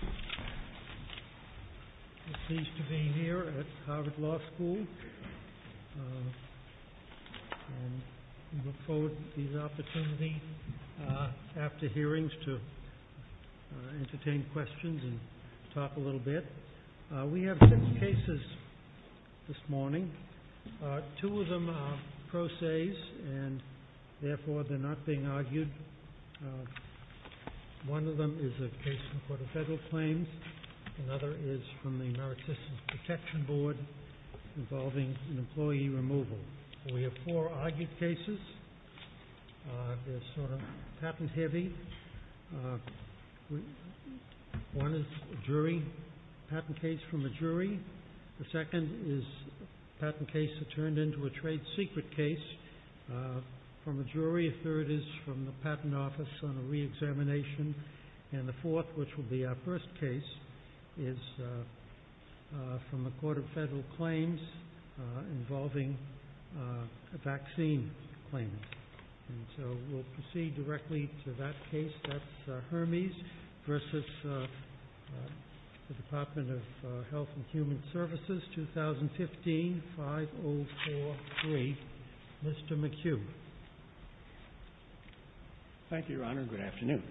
We are pleased to be here at Harvard Law School. We look forward to these opportunities after hearings to entertain questions and talk a little bit. We have six cases this morning. Two of them are pro ses and therefore they're not being argued. One of them is a case from the Court of Federal Claims. Another is from the American Systems Protection Board involving an employee removal. We have four argued cases. They're sort of patent heavy. One is a patent case from a jury. The second is a patent case that turned into a trade secret case from a jury. The third is from the Patent Office on a re-examination. The fourth, which will be our first case, is from the Court of Federal Claims involving a vaccine claim. We'll proceed directly to that case. That's Hirmiz v. Department of Health and Human Services, 2015, 5043. Mr. McHugh. Thank you, Your Honor. Good afternoon.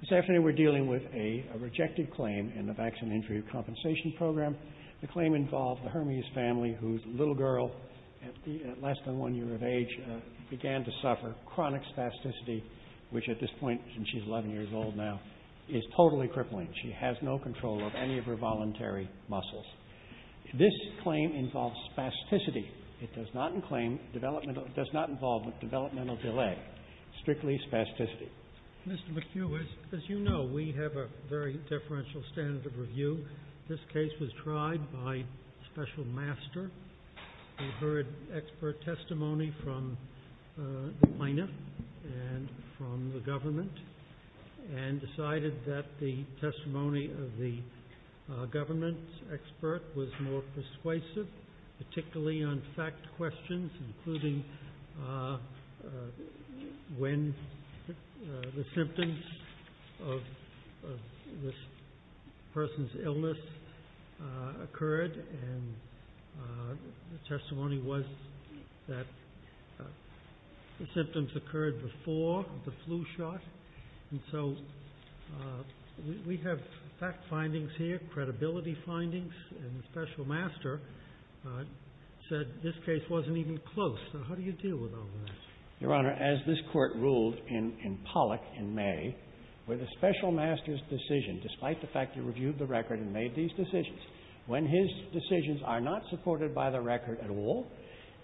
This afternoon we're dealing with a rejected claim in the Vaccine Injury Compensation Program. The claim involved the Hirmiz family whose little girl, at less than one year of age, began to suffer chronic spasticity, which at this point, and she's 11 years old now, is totally crippling. She has no control of any of her voluntary muscles. This claim involves spasticity. It does not claim developmental – does not involve developmental delay. Strictly spasticity. Mr. McHugh, as you know, we have a very deferential standard of review. This case was tried by Special Master. We heard expert testimony from the plaintiff and from the government and decided that the testimony of the government expert was more persuasive, particularly on fact questions, including when the symptoms of this person's illness occurred. And the testimony was that the symptoms occurred before the flu shot. And so we have fact findings here, credibility findings, and the Special Master said this case wasn't even close. So how do you deal with all that? Your Honor, as this Court ruled in Pollock in May, where the Special Master's decision, despite the fact he reviewed the record and made these decisions, when his decisions are not supported by the record at all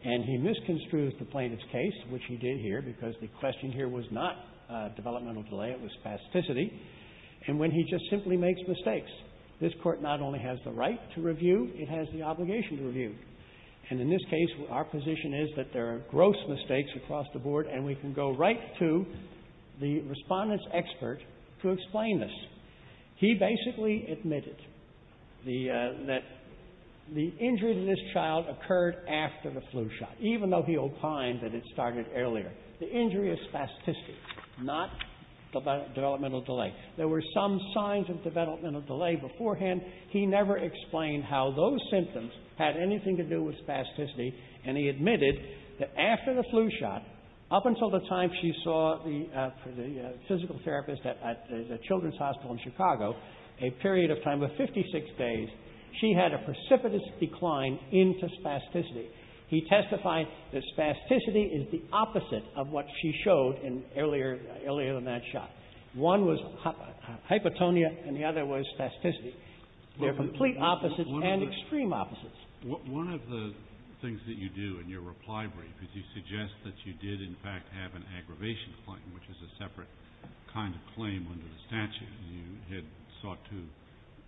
and he misconstrues the plaintiff's case, which he did here because the question here was not developmental delay, it was spasticity, and when he just simply makes mistakes, this Court not only has the right to review, it has the obligation to review. And in this case, our position is that there are gross mistakes across the board, and we can go right to the Respondent's expert to explain this. He basically admitted that the injury to this child occurred after the flu shot, even though he opined that it started earlier. The injury is spasticity, not developmental delay. There were some signs of developmental delay beforehand. He never explained how those symptoms had anything to do with spasticity, and he admitted that after the flu shot, up until the time she saw the physical therapist at the Children's Hospital in Chicago, a period of time of 56 days, she had a precipitous decline into spasticity. He testified that spasticity is the opposite of what she showed in earlier – earlier than that shot. One was hypotonia, and the other was spasticity. They're complete opposites and extreme opposites. Kennedy. One of the things that you do in your reply brief is you suggest that you did, in fact, have an aggravation claim, which is a separate kind of claim under the statute. You had sought to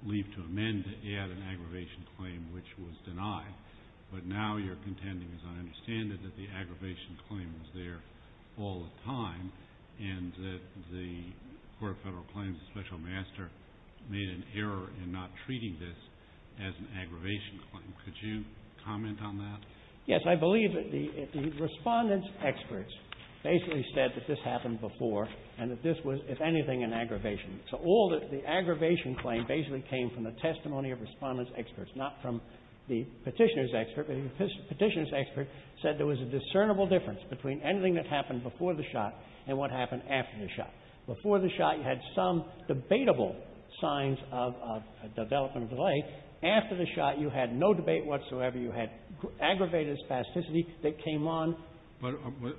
leave to amend to add an aggravation claim, which was denied, but now you're contending, as I understand it, that the aggravation claim was there all the time, and that the Court of Federal Claims and Special Master made an error in not treating this as an aggravation claim. Could you comment on that? Yes. I believe that the Respondent's experts basically said that this happened before and that this was, if anything, an aggravation. So all the aggravation claim basically came from the testimony of Respondent's experts, not from the Petitioner's expert. The Petitioner's expert said there was a discernible difference between anything that happened before the shot and what happened after the shot. Before the shot, you had some debatable signs of a development of delay. After the shot, you had no debate whatsoever. You had aggravated spasticity that came on. But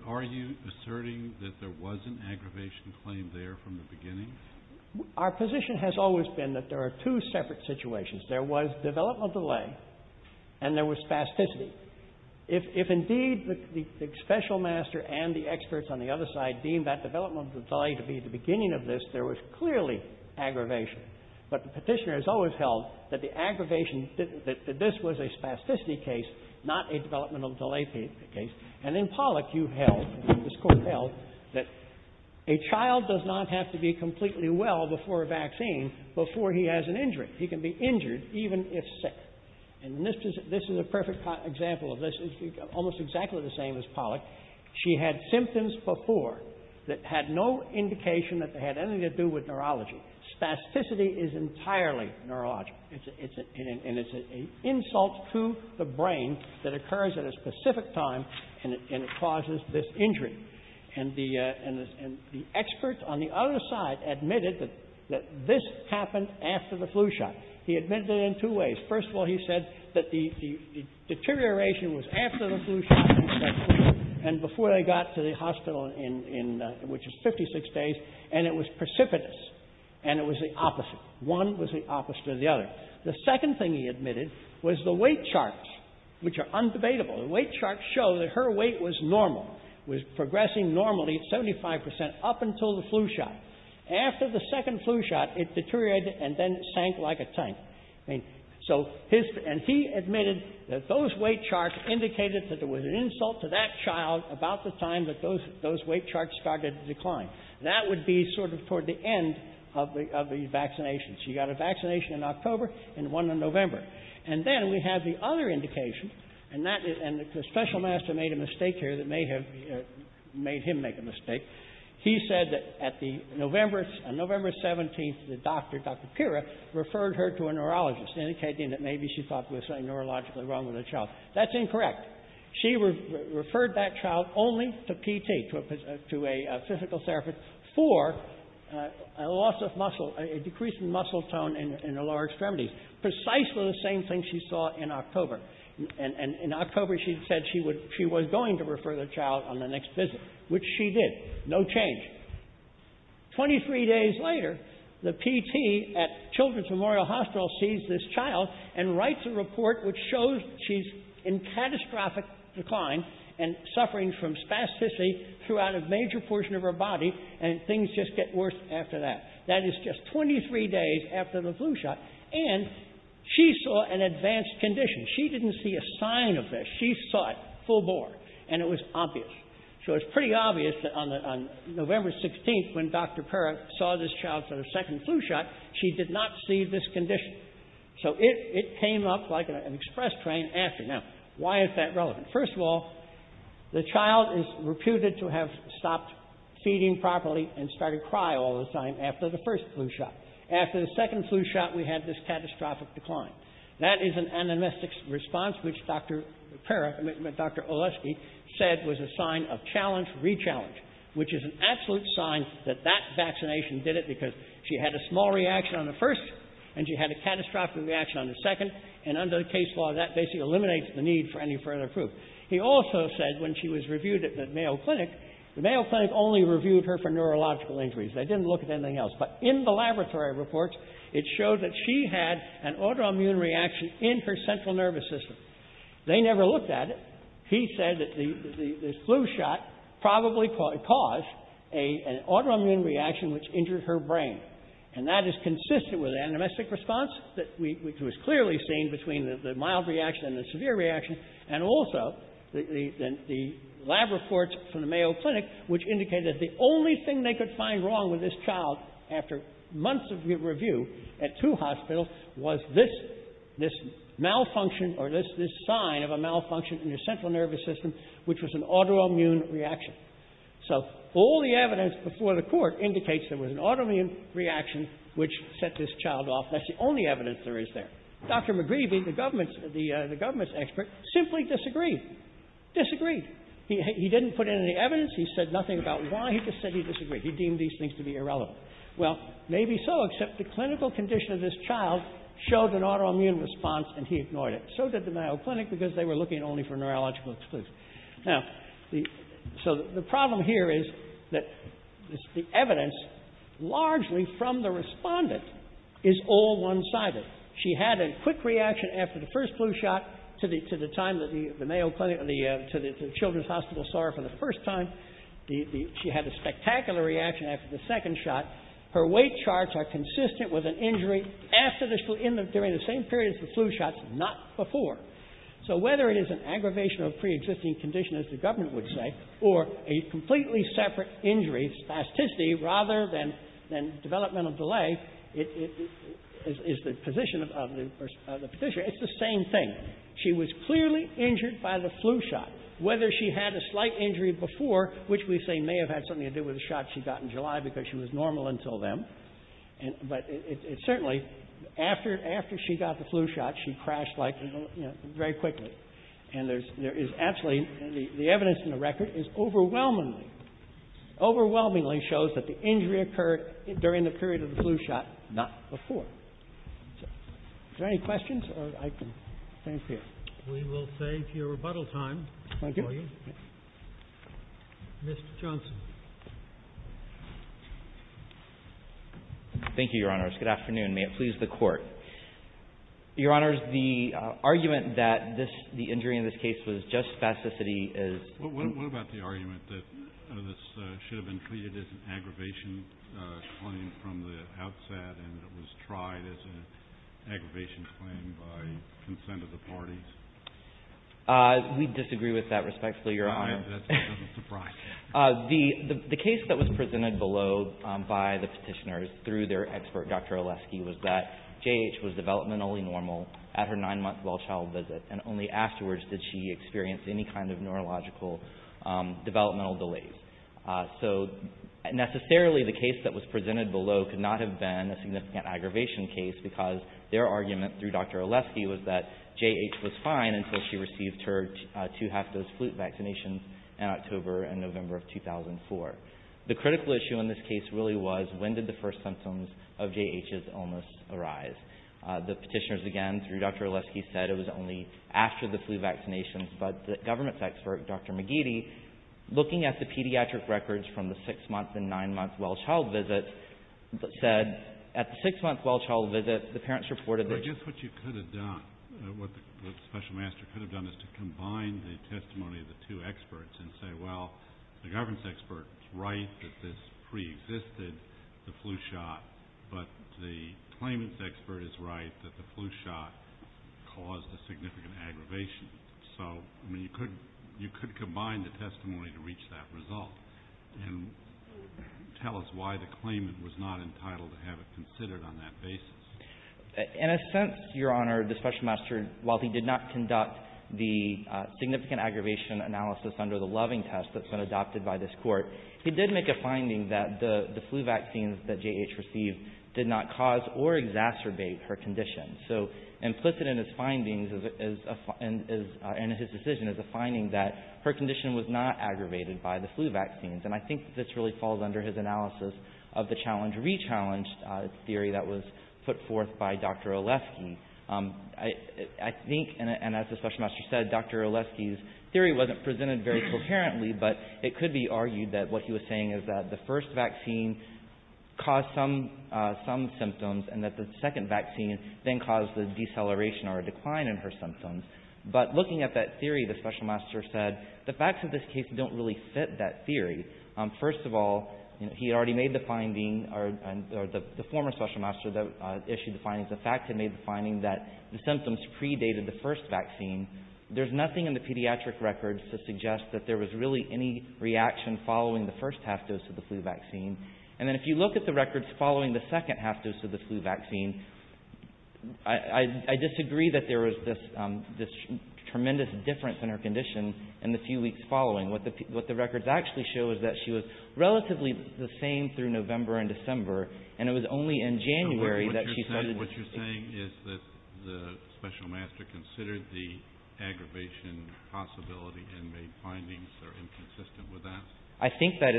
are you asserting that there was an aggravation claim there from the beginning? Our position has always been that there are two separate situations. There was development of delay and there was spasticity. If indeed the Special Master and the experts on the other side deem that development of delay to be the beginning of this, there was clearly aggravation. But the Petitioner has always held that the aggravation didn't – that this was a spasticity case, not a development of delay case. And in Pollock, you held, this Court held, that a child does not have to be completely well before a vaccine before he has an injury. He can be injured even if sick. And this is a perfect example of this. It's almost exactly the same as Pollock. She had symptoms before that had no indication that they had anything to do with neurology. Spasticity is entirely neurological. And it's an insult to the brain that occurs at a specific time and it causes this injury. And the experts on the other side admitted that this happened after the flu shot. He admitted it in two ways. First of all, he said that the deterioration was after the flu shot and before they got to the hospital, which is 56 days, and it was precipitous. And it was the opposite. One was the opposite of the other. The second thing he admitted was the weight charts, which are undebatable. The weight charts show that her weight was normal, was progressing normally at 75 percent up until the flu shot. After the second flu shot, it deteriorated and then sank like a tank. And so his – and he admitted that those weight charts indicated that there was an insult to that child about the time that those weight charts started to decline. That would be sort of toward the end of the vaccination. She got a vaccination in October and one in November. And then we have the other indication, and that is – and the special master made a mistake here that may have made him make a mistake. He said that at the November – on November 17th, the doctor, Dr. Pira, referred her to a neurologist, indicating that maybe she thought there was something neurologically wrong with her child. That's incorrect. She referred that child only to PT, to a physical therapist, for a loss of muscle, a decrease in muscle tone in her lower extremities, precisely the same thing she saw in October. And in October, she said she would – she was going to refer the child on the next visit, which she did. No change. Twenty-three days later, the PT at Children's Memorial Hospital sees this child and writes a report which shows she's in catastrophic decline and suffering from spasticity throughout a major portion of her body, and things just get worse after that. That is just 23 days after the flu shot. And she saw an advanced condition. She didn't see a sign of this. She saw it full bore, and it was obvious. So it's pretty obvious that on the – on November 16th, when Dr. Pira saw this child for the second flu shot, she did not see this condition. So it came up like an express train after. Now, why is that relevant? First of all, the child is reputed to have stopped feeding properly and started to cry all the time after the first flu shot. After the second flu shot, we had this catastrophic decline. That is an anamnestic response, which Dr. Pira – I mean, Dr. Oleski said was a sign of challenge, re-challenge, which is an absolute sign that that vaccination did it because she had a small reaction on the first, and she had a catastrophic reaction on the second. And under the case law, that basically eliminates the need for any further proof. He also said, when she was reviewed at the Mayo Clinic, the Mayo Clinic only reviewed her for neurological injuries. They didn't look at anything else. But in the laboratory reports, it showed that she had an autoimmune reaction in her central nervous system. They never looked at it. He said that the flu shot probably caused an autoimmune reaction, which injured her brain. And that is consistent with an anamnestic response, which was clearly seen between the mild reaction and the severe reaction, and also the lab reports from the Mayo Clinic, which indicated that the only thing they could find wrong with this child after months of review at two hospitals was this malfunction or this sign of a malfunction in her central nervous system, which was an autoimmune reaction. So all the evidence before the Court indicates there was an autoimmune reaction, which set this child off. That's the only evidence there is there. Dr. McGreevey, the government's expert, simply disagreed. Disagreed. He didn't put in any evidence. He said nothing about why. He just said he disagreed. He deemed these things to be irrelevant. Well, maybe so, except the clinical condition of this child showed an autoimmune response, and he ignored it. So did the Mayo Clinic, because they were looking only for neurological exclusions. Now, so the problem here is that the evidence, largely from the Respondent, is all one-sided. She had a quick reaction after the first flu shot to the time that the Mayo Clinic or the Children's Hospital saw her for the first time. She had a spectacular reaction after the second shot. Her weight charts are consistent with an injury after the flu, during the same period as the flu shot, not before. So whether it is an aggravation of preexisting condition, as the government would say, or a completely separate injury, spasticity, rather than developmental delay, is the position of the Petitioner. It's the same thing. She was clearly injured by the flu shot. Whether she had a slight injury before, which we say may have had something to do with the shot she got in July, because she was normal until then, but it certainly After she got the flu shot, she crashed, like, you know, very quickly. And there is absolutely, the evidence in the record is overwhelmingly, overwhelmingly shows that the injury occurred during the period of the flu shot, not before. Is there any questions? Thank you. We will save your rebuttal time for you. Mr. Johnson. Thank you, Your Honors. Good afternoon. May it please the Court. Your Honors, the argument that the injury in this case was just spasticity is What about the argument that this should have been treated as an aggravation claim from the outset, and it was tried as an aggravation claim by consent of the parties? We disagree with that, respectfully, Your Honor. That doesn't surprise me. The case that was presented below by the Petitioners through their expert Dr. Oleski was that J.H. was developmentally normal at her nine-month well-child visit, and only afterwards did she experience any kind of neurological developmental delays. So, necessarily, the case that was presented below could not have been a significant aggravation case, because their argument through Dr. Oleski was that J.H. was fine until she received her two-half-dose flu vaccination in October and November of 2004. The critical issue in this case really was, when did the first symptoms of J.H.'s illness arise? The Petitioners, again, through Dr. Oleski said it was only after the flu vaccinations, but the government's expert, Dr. McGeady, looking at the pediatric records from the six-month and nine-month well-child visits, said at the six-month well-child visit, the parents reported that I guess what you could have done, what the Special Master could have done, is to combine the testimony of the two experts and say, well, the government's expert is right that this preexisted, the flu shot, but the claimant's expert is right that the flu shot caused a significant aggravation. So, I mean, you could combine the testimony to reach that result and tell us why the claimant was not entitled to have it considered on that basis. In a sense, Your Honor, the Special Master, while he did not conduct the significant aggravation analysis under the Loving test that's been adopted by this Court, he did make a finding that the flu vaccines that J.H. received did not cause or exacerbate her condition. So implicit in his findings, in his decision, is a finding that her condition was not aggravated by the flu vaccines. And I think this really falls under his analysis of the challenge-re-challenge theory that was put forth by Dr. Olesky. I think, and as the Special Master said, Dr. Olesky's theory wasn't presented very coherently, but it could be argued that what he was saying is that the first vaccine caused some symptoms and that the second vaccine then caused the deceleration or decline in her symptoms. But looking at that theory, the Special Master said, the facts of this case don't really fit that theory. First of all, he already made the finding, or the former Special Master that issued the findings, the fact that he made the finding that the symptoms predated the first vaccine. There's nothing in the pediatric records to suggest that there was really any reaction following the first half-dose of the flu vaccine. And then if you look at the records following the second half-dose of the flu vaccine, I disagree that there was this tremendous difference in her condition in the few weeks following. What the records actually show is that she was relatively the same through November and December, and it was only in January that she started to… So what you're saying is that the Special Master considered the aggravation possibility and made findings that are inconsistent with that? I think that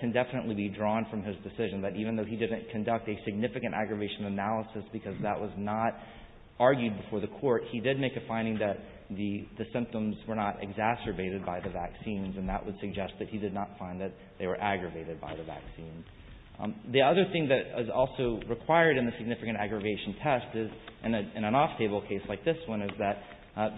can definitely be drawn from his decision, that even though he didn't conduct a significant aggravation analysis because that was not argued before the court, he did make a finding that the symptoms were not exacerbated by the vaccines, and that would suggest that he did not find that they were aggravated by the vaccines. The other thing that is also required in a significant aggravation test, in an off-table case like this one, is that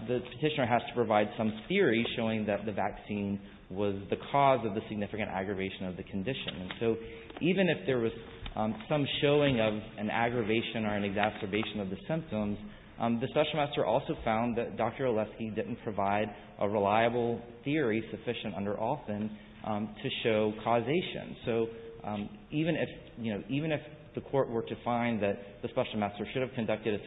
the petitioner has to provide some theory showing that the vaccine was the cause of the significant aggravation of the condition. So even if there was some showing of an aggravation or an exacerbation of the symptoms, the Special Master also found that Dr. Oleski didn't provide a reliable theory sufficient under Alston to show causation. So even if the court were to find that the Special Master should have conducted a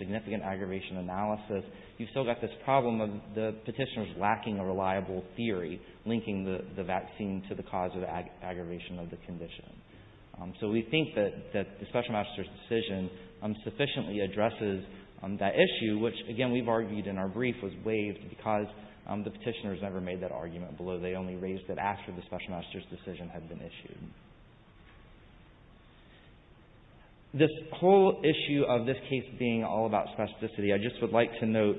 significant aggravation analysis, you've still got this problem of the petitioner's lacking a reliable theory linking the vaccine to the cause of the aggravation of the condition. So we think that the Special Master's decision sufficiently addresses that issue, which, again, we've argued in our brief was waived because the petitioner has never made that argument below. They only raised it after the Special Master's decision had been issued. This whole issue of this case being all about specificity, I just would like to note,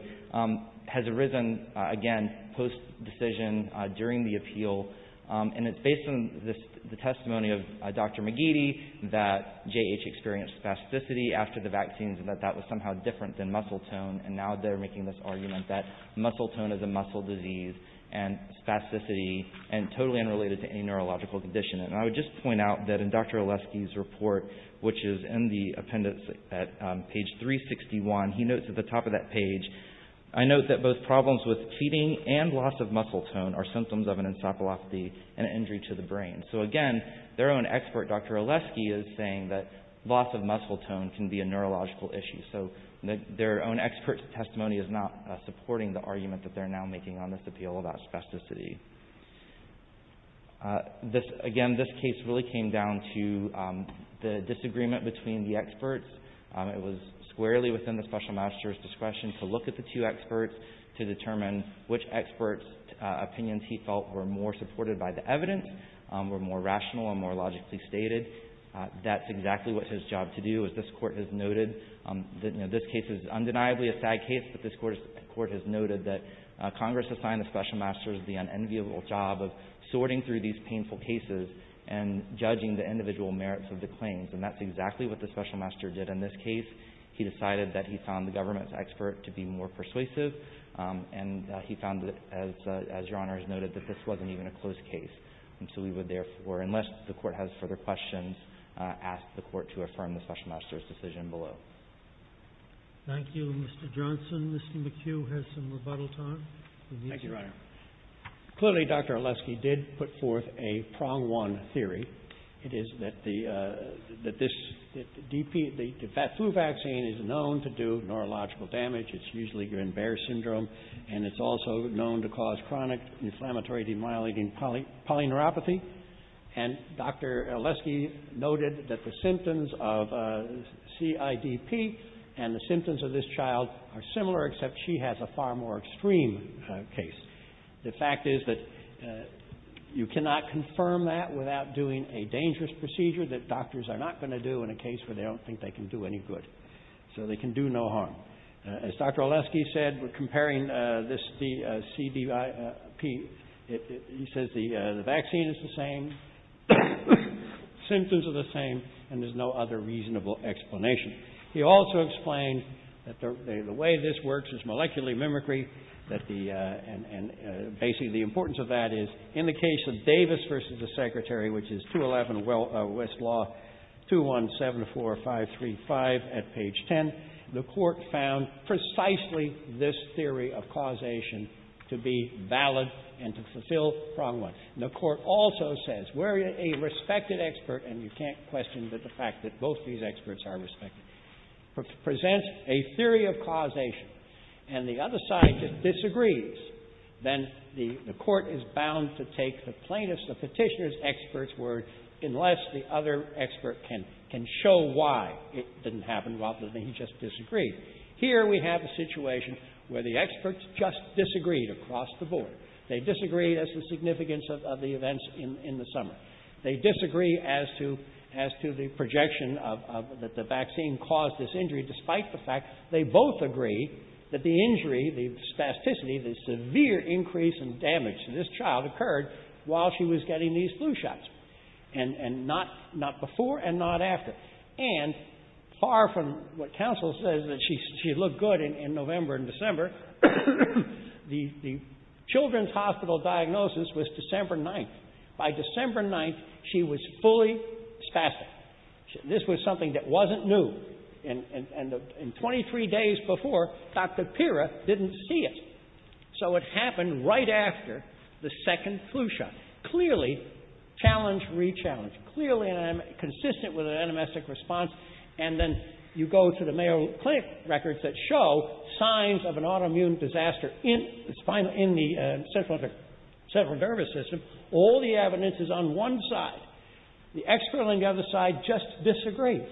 has arisen, again, post-decision during the appeal. And it's based on the testimony of Dr. McGeady that J.H. experienced spasticity after the vaccines and that that was somehow different than muscle tone. And now they're making this argument that muscle tone is a muscle disease and spasticity and totally unrelated to any neurological condition. And I would just point out that in Dr. Oleski's report, which is in the appendix at page 361, he notes at the top of that page, I note that both problems with feeding and loss of muscle tone are symptoms of an encephalopathy, an injury to the brain. So, again, their own expert, Dr. Oleski, is saying that loss of muscle tone can be a neurological issue. So their own expert's testimony is not supporting the argument that they're now making on this appeal about spasticity. It was squarely within the Special Master's discretion to look at the two experts to determine which expert's opinions he felt were more supported by the evidence, were more rational and more logically stated. That's exactly what his job to do, as this Court has noted. This case is undeniably a sad case, but this Court has noted that Congress assigned the Special Master's the unenviable job of sorting through these painful cases and judging the individual merits of the claims. And that's exactly what the Special Master did in this case. He decided that he found the government's expert to be more persuasive, and he found that, as Your Honor has noted, that this wasn't even a close case. And so we would, therefore, unless the Court has further questions, ask the Court to affirm the Special Master's decision below. Thank you, Mr. Johnson. Mr. McHugh has some rebuttal time. Thank you, Your Honor. Clearly, Dr. Oleski did put forth a prong-one theory. It is that the DP, the flu vaccine is known to do neurological damage. It's usually in Bear syndrome, and it's also known to cause chronic inflammatory demyelinating polyneuropathy. And Dr. Oleski noted that the symptoms of CIDP and the symptoms of this child are similar, except she has a far more extreme case. The fact is that you cannot confirm that without doing a dangerous procedure that doctors are not going to do in a case where they don't think they can do any good. So they can do no harm. As Dr. Oleski said, comparing this, the CDIP, he says the vaccine is the same, symptoms are the same, and there's no other reasonable explanation. He also explained that the way this works is molecularly mimicry, and basically the importance of that is in the case of Davis v. The Secretary, which is 211 West Law, 2174535 at page 10, the Court found precisely this theory of causation to be valid and to fulfill prong-one. The Court also says we're a respected expert, and you can't question the fact that both these experts are respected, presents a theory of causation, and the other side just disagrees, then the Court is bound to take the plaintiff's, the Petitioner's expert's word unless the other expert can show why it didn't happen rather than he just disagreed. Here we have a situation where the experts just disagreed across the board. They disagreed as to the significance of the events in the summer. They disagree as to the projection that the vaccine caused this injury despite the fact they both agree that the injury, the spasticity, the severe increase in damage to this child occurred while she was getting these flu shots, and not before and not after, and far from what counsel says, that she looked good in November and December, the children's hospital diagnosis was December 9th. By December 9th, she was fully spastic. This was something that wasn't new. And 23 days before, Dr. Pira didn't see it. So it happened right after the second flu shot. Clearly, challenge, re-challenge. Clearly, consistent with an anamnestic response. And then you go to the Mayo Clinic records that show signs of an autoimmune disaster in the central nervous system. All the evidence is on one side. The expert on the other side just disagrees.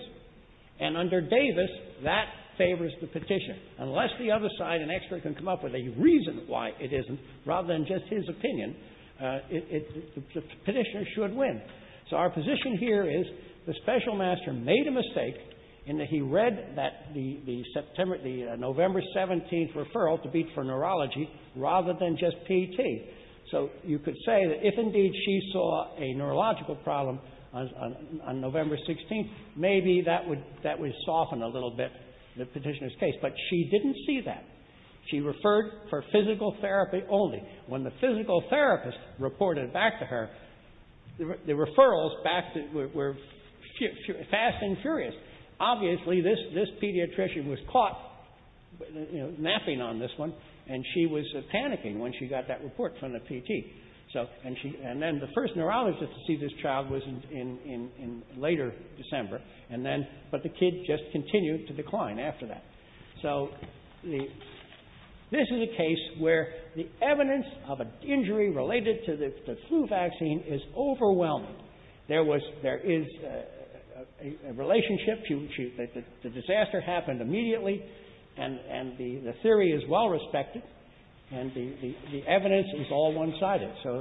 And under Davis, that favors the petition. Unless the other side, an expert, can come up with a reason why it isn't, rather than just his opinion, the petitioner should win. So our position here is the special master made a mistake in that he read that the November 17th referral to be for neurology, rather than just PT. So you could say that if indeed she saw a neurological problem on November 16th, maybe that would soften a little bit the petitioner's case. But she didn't see that. She referred for physical therapy only. When the physical therapist reported back to her, the referrals were fast and furious. Obviously, this pediatrician was caught napping on this one. And she was panicking when she got that report from the PT. And then the first neurologist to see this child was in later December. But the kid just continued to decline after that. So this is a case where the evidence of an injury related to the flu vaccine is overwhelming. There was – there is a relationship. The disaster happened immediately. And the theory is well respected. And the evidence is all one-sided. So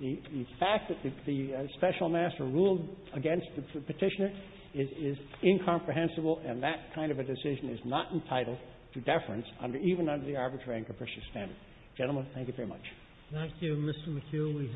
the fact that the special master ruled against the petitioner is incomprehensible, and that kind of a decision is not entitled to deference, even under the arbitrary and capricious standard. Gentlemen, thank you very much. Thank you, Mr. McHugh.